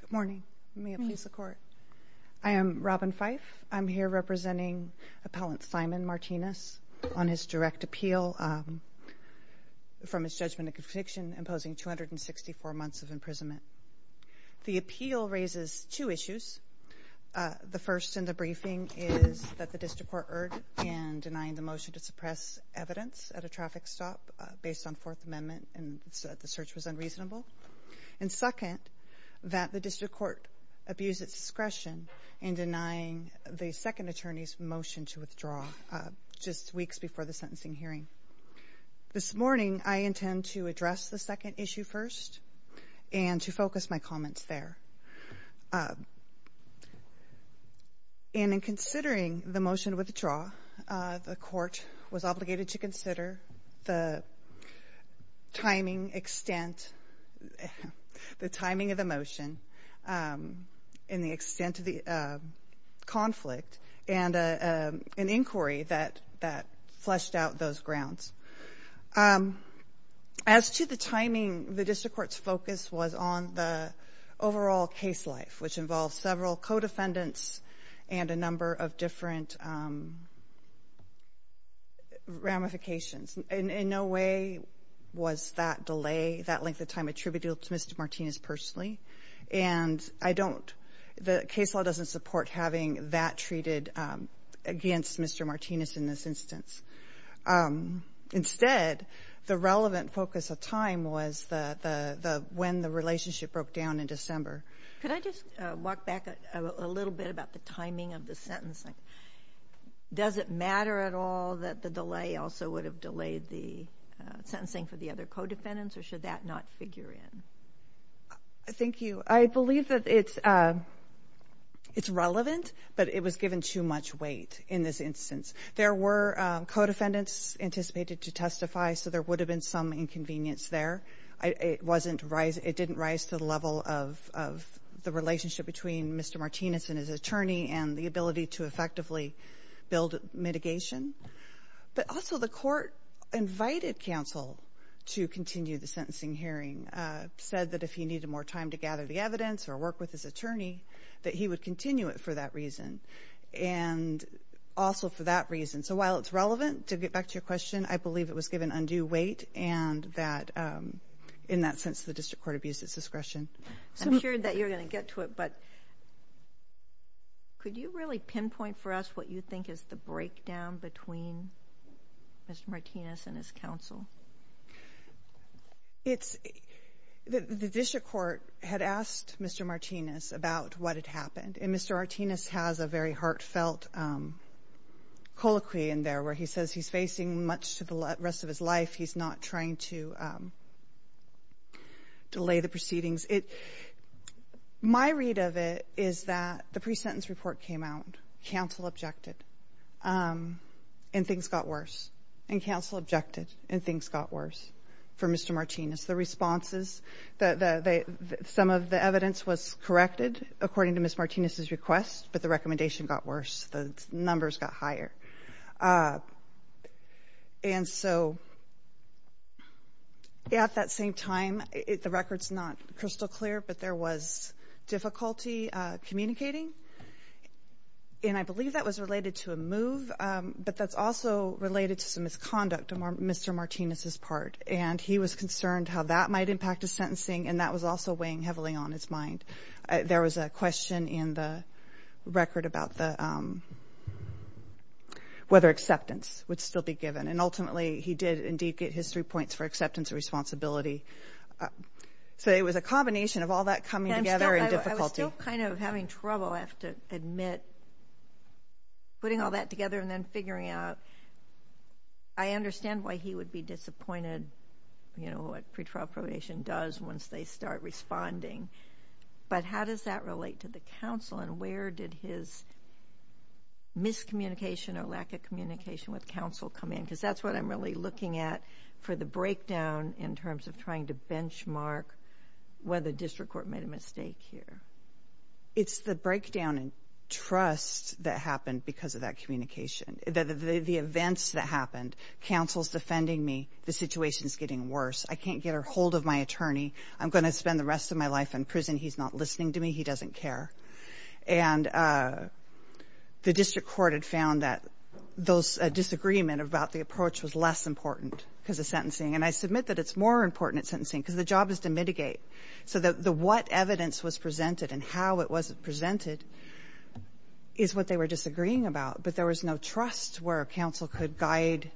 Good morning. May it please the Court. I am Robin Fife. I'm here representing Appellant Simon Martinez on his direct appeal from his judgment of conviction imposing 264 months of imprisonment. The appeal raises two issues. The first in the briefing is that the District Court erred in denying the motion to suppress evidence at a traffic stop based on Fourth Amendment and said the search was unreasonable. And second, that the District Court abused its discretion in denying the second attorney's motion to withdraw just weeks before the sentencing hearing. This morning, I intend to address the second issue first and to focus my comments there. And in considering the motion to withdraw, the Court was obligated to consider the timing extent, the timing of the motion, and the extent of the conflict, and an inquiry that fleshed out those grounds. As to the timing, the District Court's focus was on the overall case life, which involves several co-defendants and a number of different ramifications. In no way was that delay, that length of time, attributed to Mr. Martinez personally. And I don't, the case law doesn't support having that treated against Mr. Martinez in this instance. Instead, the relevant focus of time was the when the relationship broke down in Could I just walk back a little bit about the timing of the sentencing? Does it matter at all that the delay also would have delayed the sentencing for the other co-defendants, or should that not figure in? Thank you. I believe that it's relevant, but it was given too much weight in this instance. There were co-defendants anticipated to testify, so there would have been some inconvenience there. It didn't rise to the level of the relationship between Mr. Martinez and his attorney and the ability to effectively build mitigation. But also, the court invited counsel to continue the sentencing hearing, said that if he needed more time to gather the evidence or work with his attorney, that he would continue it for that reason, and also for that reason. So while it's relevant, to get back to your question, I believe it was given undue weight, and that in that sense the District Court abused its discretion. I'm sure that you're going to get to it, but could you really pinpoint for us what you think is the breakdown between Mr. Martinez and his counsel? The District Court had asked Mr. Martinez about what had happened, and Mr. Martinez has a very heartfelt colloquy in there where he says he's facing much to the rest of his life, he's not trying to delay the proceedings. My read of it is that the pre-sentence report came out, counsel objected, and things got worse, and counsel objected, and things got worse for Mr. Martinez. The responses, some of the evidence was corrected according to Ms. Martinez's request, but the recommendation got worse, the numbers got higher. And so at that same time, the record's not crystal clear, but there was difficulty communicating, and I believe that was related to a move, but that's also related to some misconduct on Mr. Martinez's part, and he was concerned how that might impact his sentencing, and that was also weighing heavily on his mind. There was a question in the record about whether acceptance would still be given, and ultimately he did indeed get his three points for acceptance and responsibility. So it was a combination of all that coming together and difficulty. I was still kind of having trouble, I have to admit, putting all that together and then figuring out. I understand why he would be disappointed, you know, what pretrial probation does once they start responding, but how does that relate to the counsel, and where did his miscommunication or lack of communication with counsel come in? Because that's what I'm really looking at for the breakdown in terms of trying to benchmark whether district court made a mistake here. It's the breakdown in trust that happened because of that communication, the events that happened. Counsel's defending me, the situation's getting worse, I can't get a hold of my attorney, I'm going to spend the rest of my life in prison, he's not listening to me, he doesn't care. And the district court had found that those disagreements about the approach was less important because of sentencing, and I submit that it's more important at sentencing because the job is to mitigate. So the what evidence was presented and how it was presented is what they were disagreeing about, but there was no trust where counsel could guide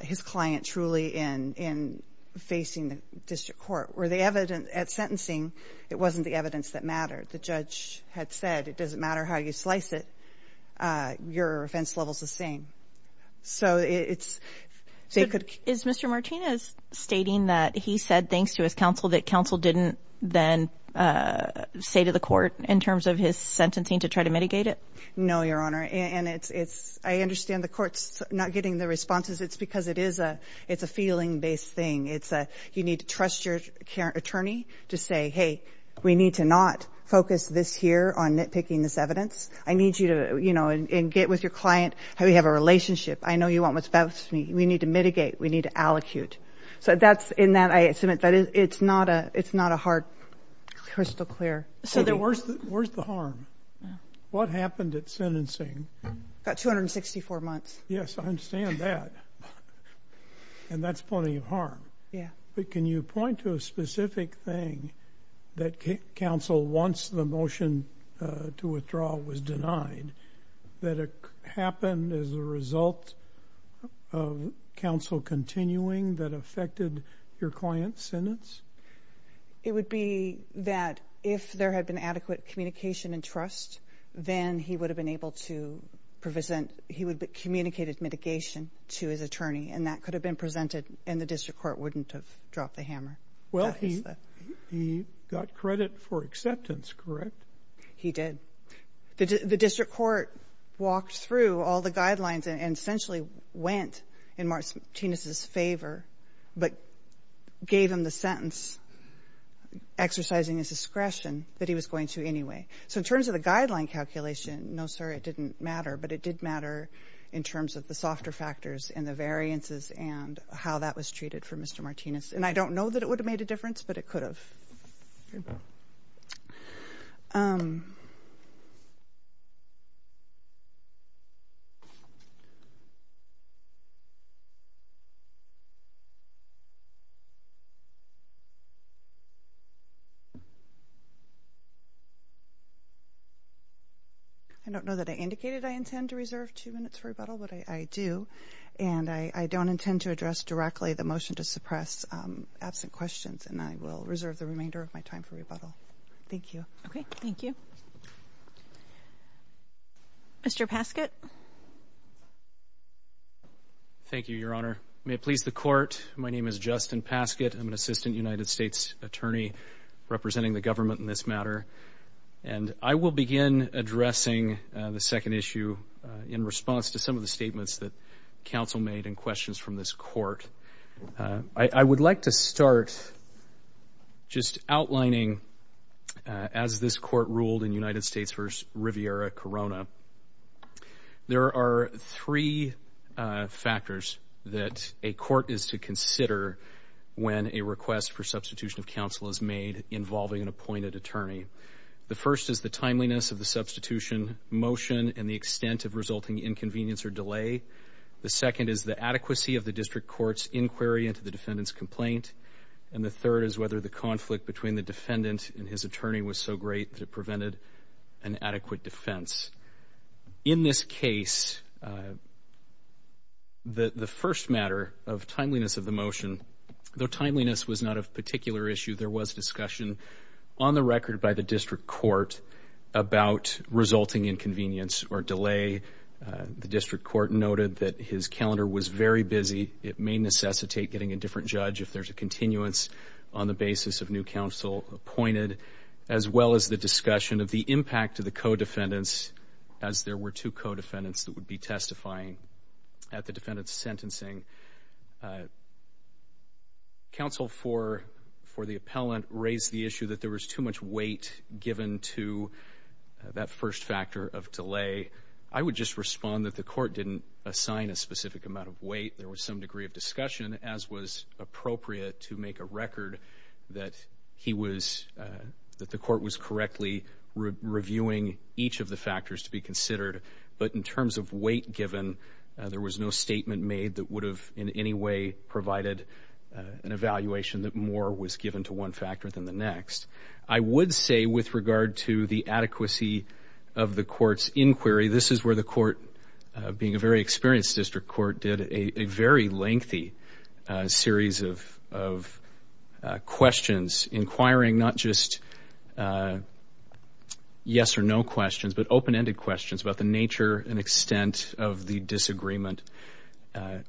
his client truly in facing the district court, where the evidence at sentencing, it wasn't the evidence that mattered. The judge had said, it doesn't matter how you slice it, your offense level's the same. So it's... Is Mr. Martinez stating that he said, thanks to his counsel, that counsel didn't then say to the court in terms of his sentencing to try to mitigate it? No, Your Honor. And it's, I understand the court's not getting the responses. It's because it is a, it's a feeling based thing. It's a, you need to trust your attorney to say, hey, we need to not focus this here on nitpicking this evidence. I need you to, you know, and get with your client how we have a relationship. I know you want what's best for me. We need to mitigate, we need to allocute. So that's in that, I submit that it's not a, it's not a hard, crystal clear. So then where's the, where's the harm? What happened at sentencing? Got 264 months. Yes, I understand that. And that's plenty of harm. Yeah. But can you point to a specific thing that counsel wants the motion to withdraw was denied, that it happened as a result of counsel continuing that affected your client's sentence? It would be that if there had been adequate communication and trust, then he would have been able to present, he would have communicated mitigation to his attorney. And that could have been presented and the district court wouldn't have dropped the hammer. Well, he, he got credit for acceptance, correct? He did. The district court walked through all the guidelines and essentially went in Martinez's favor, but gave him the sentence exercising his discretion that he was going to anyway. So in terms of the guideline calculation, no, sir, it didn't matter. But it did matter in terms of the softer factors and the variances and how that was treated for Mr. Martinez. And I don't know that it would have made a difference, but it could have. I don't know that I indicated I intend to reserve two minutes for rebuttal, but I do, and I don't intend to address directly the motion to suppress absent questions, and I will reserve the remainder of my time for rebuttal. Thank you. Okay, thank you. Mr. Paskett. Thank you, Your Honor. May it please the court. My name is Justin Paskett. I'm an assistant United States attorney representing the government in this matter. And I will begin addressing the second issue in response to some of the statements that counsel made and questions from this court. I would like to start just outlining, as this court ruled in United States v. Riviera-Corona, there are three factors that a court is to consider when a request for substitution of counsel is made involving an appointed attorney. The first is the timeliness of the substitution motion and the extent of resulting inconvenience or delay. The second is the adequacy of the district court's inquiry into the defendant's complaint. And the third is whether the conflict between the defendant and his attorney was so great that it prevented an adequate defense. In this case, the first matter of timeliness of the motion, though timeliness was not a particular issue, there was discussion on the record by the district court about resulting inconvenience or delay. The district court noted that his calendar was very busy. It may necessitate getting a different judge if there's a continuance on the basis of new counsel appointed, as well as the discussion of the impact of the co-defendants as there were two co-defendants that would be testifying at the defendant's sentencing. Counsel for the appellant raised the issue that there was too much weight given to that first factor of delay. I would just respond that the court didn't assign a specific amount of weight. There was some degree of discussion, as was appropriate, to make a record that he was, that the court was correctly reviewing each of the factors to be considered. But in terms of weight given, there was no statement made that would have in any way provided an evaluation that more was given to one factor than the next. I would say with regard to the adequacy of the court's inquiry, this is where the court, being a very experienced district court, did a very lengthy series of questions, inquiring not just yes or no questions, but open-ended questions about the nature and extent of the disagreement,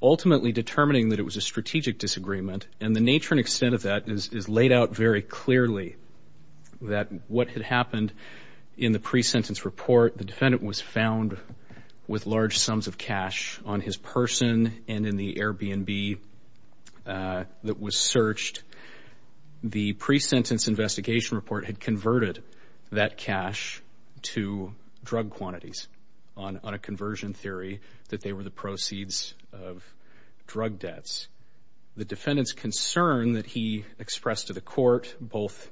ultimately determining that it was a strategic disagreement. And the nature and extent of that is laid out very clearly, that what had happened in the pre-sentence report, the defendant was found with large sums of cash on his person and in the Airbnb that was searched. The pre-sentence investigation report had converted that cash to drug quantities on a conversion theory that they were the proceeds of drug debts. The defendant's concern that he expressed to the court, both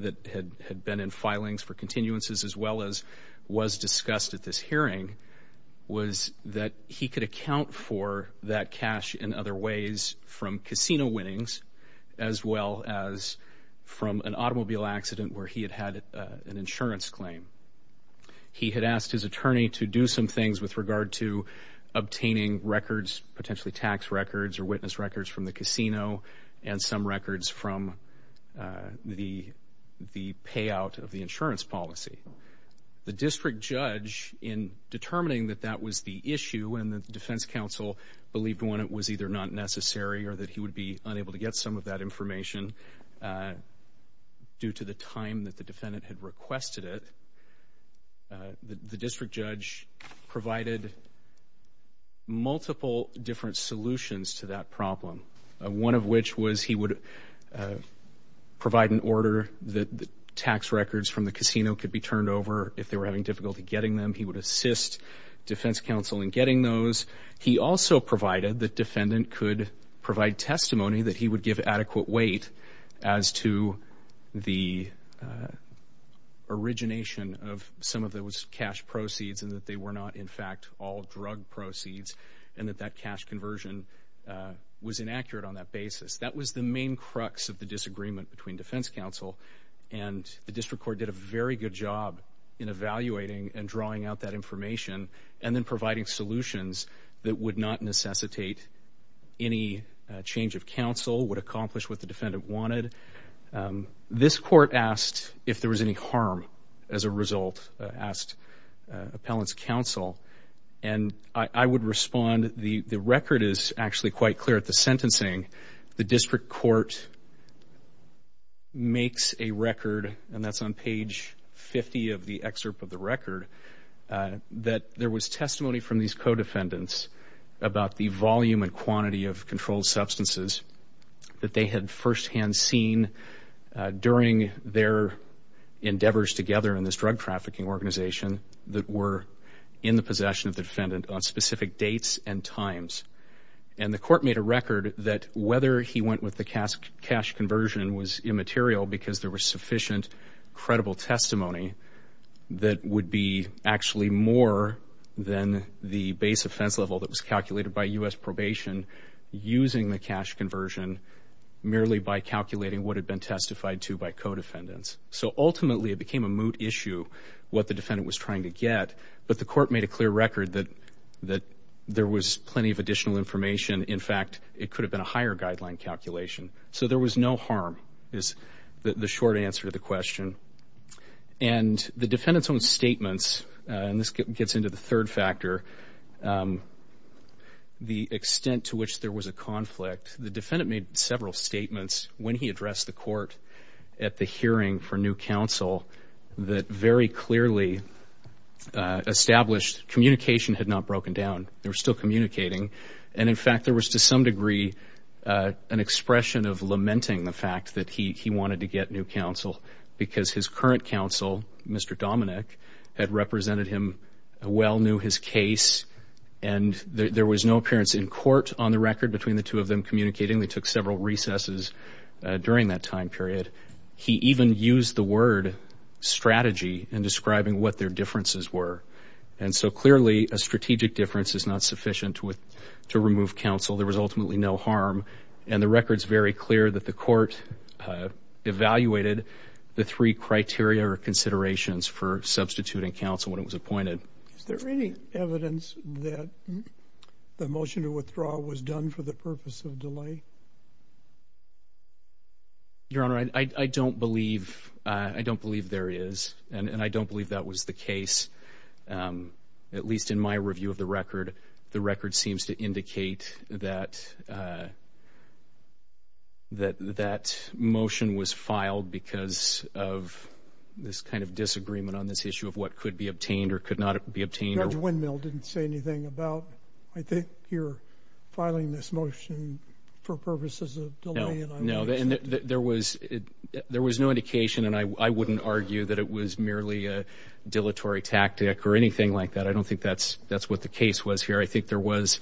that had been in filings for continuances as well as was discussed at this hearing, was that he could account for that cash in other ways from casino winnings as well as from an automobile accident where he had had an insurance claim. He had asked his attorney to do some things with regard to obtaining records, potentially tax records or witness records, from the casino and some records from the payout of the insurance policy. The district judge, in determining that that was the issue and that the defense counsel believed when it was either not necessary or that he would be unable to get some of that information due to the time that the defendant had requested it, the district judge provided multiple different solutions to that problem. One of which was he would provide an order that the tax records from the casino could be turned over if they were having difficulty getting them. He would assist defense counsel in getting those. He also provided that defendant could provide testimony that he would give adequate weight as to the origination of some of those cash proceeds and that they were not, in fact, all drug proceeds and that that cash conversion was inaccurate on that basis. That was the main crux of the disagreement between defense counsel and the district court did a very good job in evaluating and drawing out that information and then providing solutions that would not necessitate any change of counsel, would accomplish what the defendant wanted. This court asked if there was any harm as a result, asked appellant's counsel, and I would respond. The record is actually quite clear at the sentencing. The district court makes a record, and that's on page 50 of the excerpt of the record, that there was testimony from these co-defendants about the volume and quantity of controlled substances that they had firsthand seen during their endeavors together in this drug trafficking organization that were in the possession of the defendant on specific dates and times, and the court made a record that whether he went with the cash conversion was immaterial because there was sufficient credible testimony that would be actually more than the base offense level that was calculated by U.S. probation using the cash conversion merely by calculating what had been testified to by co-defendants. So ultimately it became a moot issue what the defendant was trying to get, but the court made a clear record that there was plenty of additional information. In fact, it could have been a higher guideline calculation. So there was no harm is the short answer to the question. And the defendant's own statements, and this gets into the third factor, the extent to which there was a conflict. The defendant made several statements when he addressed the court at the hearing for new counsel that very clearly established communication had not broken down. They were still communicating, and in fact there was to some degree an expression of lamenting the fact that he wanted to get new counsel because his current counsel, Mr. Dominick, had represented him, well knew his case, and there was no appearance in court on the record between the two of them communicating. They took several recesses during that time period. He even used the word strategy in describing what their differences were. And so clearly a strategic difference is not sufficient to remove counsel. There was ultimately no harm, and the record's very clear that the court evaluated the three criteria or considerations for substituting counsel when it was appointed. Is there any evidence that the motion to withdraw was done for the purpose of delay? Your Honor, I don't believe there is, and I don't believe that was the case. At least in my review of the record, the record seems to indicate that that motion was filed because of this kind of disagreement on this issue of what could be obtained or could not be obtained. Judge Windmill didn't say anything about, I think, your filing this motion for purposes of delay. No, there was no indication, and I wouldn't argue that it was merely a dilatory tactic or anything like that. I don't think that's what the case was here. I think there was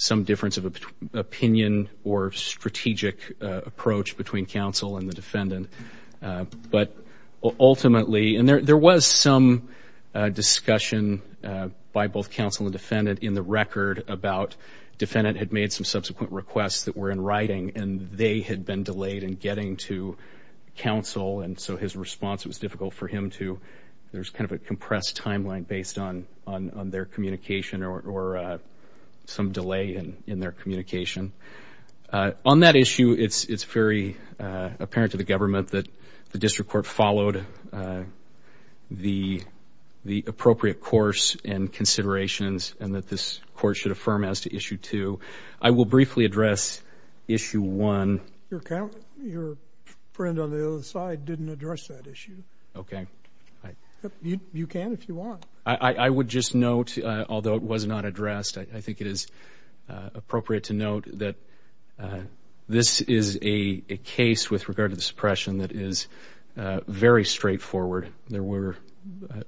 some difference of opinion or strategic approach between counsel and the defendant. But ultimately, and there was some discussion by both counsel and defendant in the record about defendant had made some subsequent requests that were in writing, and they had been delayed in getting to counsel, and so his response was difficult for him to, there's kind of a compressed timeline based on their communication or some delay in their communication. On that issue, it's very apparent to the government that the district court followed the appropriate course and considerations and that this court should affirm as to issue two. I will briefly address issue one. Your friend on the other side didn't address that issue. Okay. You can if you want. I would just note, although it was not addressed, I think it is appropriate to note that this is a case with regard to the suppression that is very straightforward. There were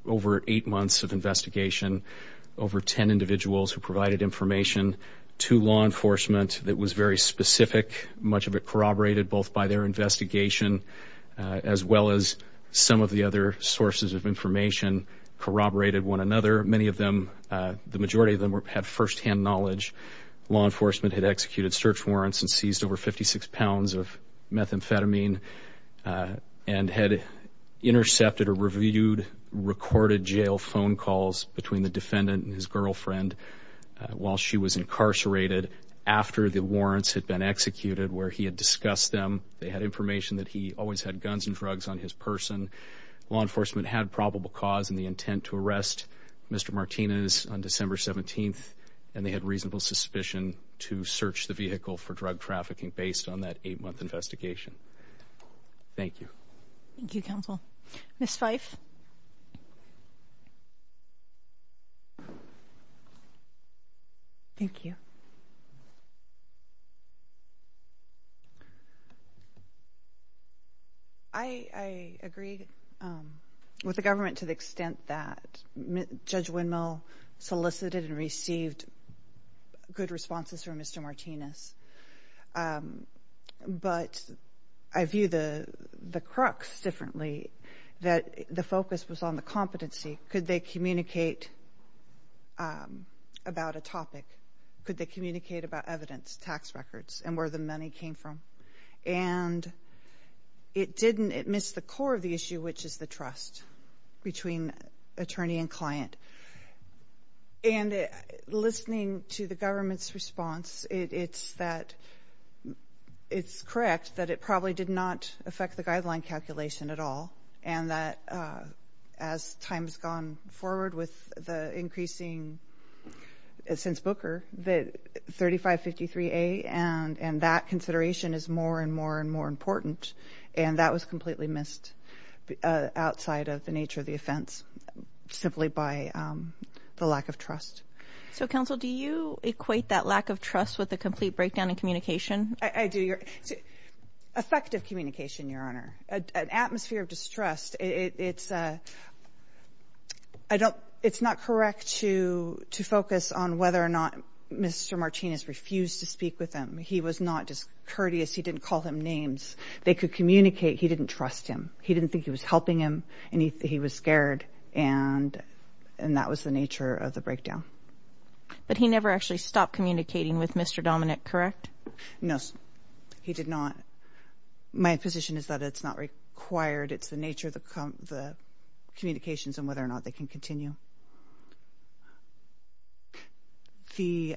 over eight months of investigation, over ten individuals who provided information to law enforcement that was very specific. Much of it corroborated both by their investigation as well as some of the other sources of information corroborated one another. Many of them, the majority of them had firsthand knowledge. Law enforcement had executed search warrants and seized over 56 pounds of methamphetamine and had intercepted or reviewed recorded jail phone calls between the defendant and his girlfriend while she was incarcerated after the warrants had been executed where he had discussed them. They had information that he always had guns and drugs on his person. Law enforcement had probable cause in the intent to arrest Mr. Martinez on December 17th, and they had reasonable suspicion to search the vehicle for drug trafficking based on that eight-month investigation. Thank you. Thank you, Counsel. Ms. Fife. Thank you. I agree with the government to the extent that Judge Windmill solicited and received good responses from Mr. Martinez, but I view the crux differently, that the focus was on the competency. Could they communicate about a topic? Could they communicate about evidence, tax records, and where the money came from? And it missed the core of the issue, which is the trust between attorney and client. And listening to the government's response, it's correct that it probably did not affect the guideline calculation at all and that as time has gone forward with the increasing since Booker, that 3553A and that consideration is more and more and more important, and that was completely missed outside of the nature of the offense simply by the lack of trust. So, Counsel, do you equate that lack of trust with a complete breakdown in communication? I do. Effective communication, Your Honor. An atmosphere of distrust, it's not correct to focus on whether or not Mr. Martinez refused to speak with him. He was not just courteous. He didn't call him names. They could communicate. He didn't trust him. He didn't think he was helping him, and he was scared, and that was the nature of the breakdown. But he never actually stopped communicating with Mr. Dominick, correct? No, he did not. My position is that it's not required. It's the nature of the communications and whether or not they can continue. The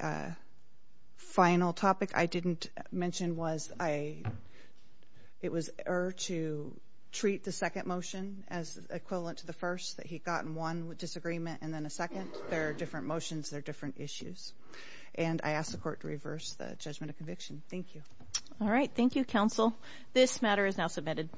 final topic I didn't mention was it was erred to treat the second motion as equivalent to the first, that he'd gotten one disagreement and then a second. There are different motions. There are different issues. And I ask the Court to reverse the judgment of conviction. Thank you. All right. Thank you, Counsel. This matter is now submitted.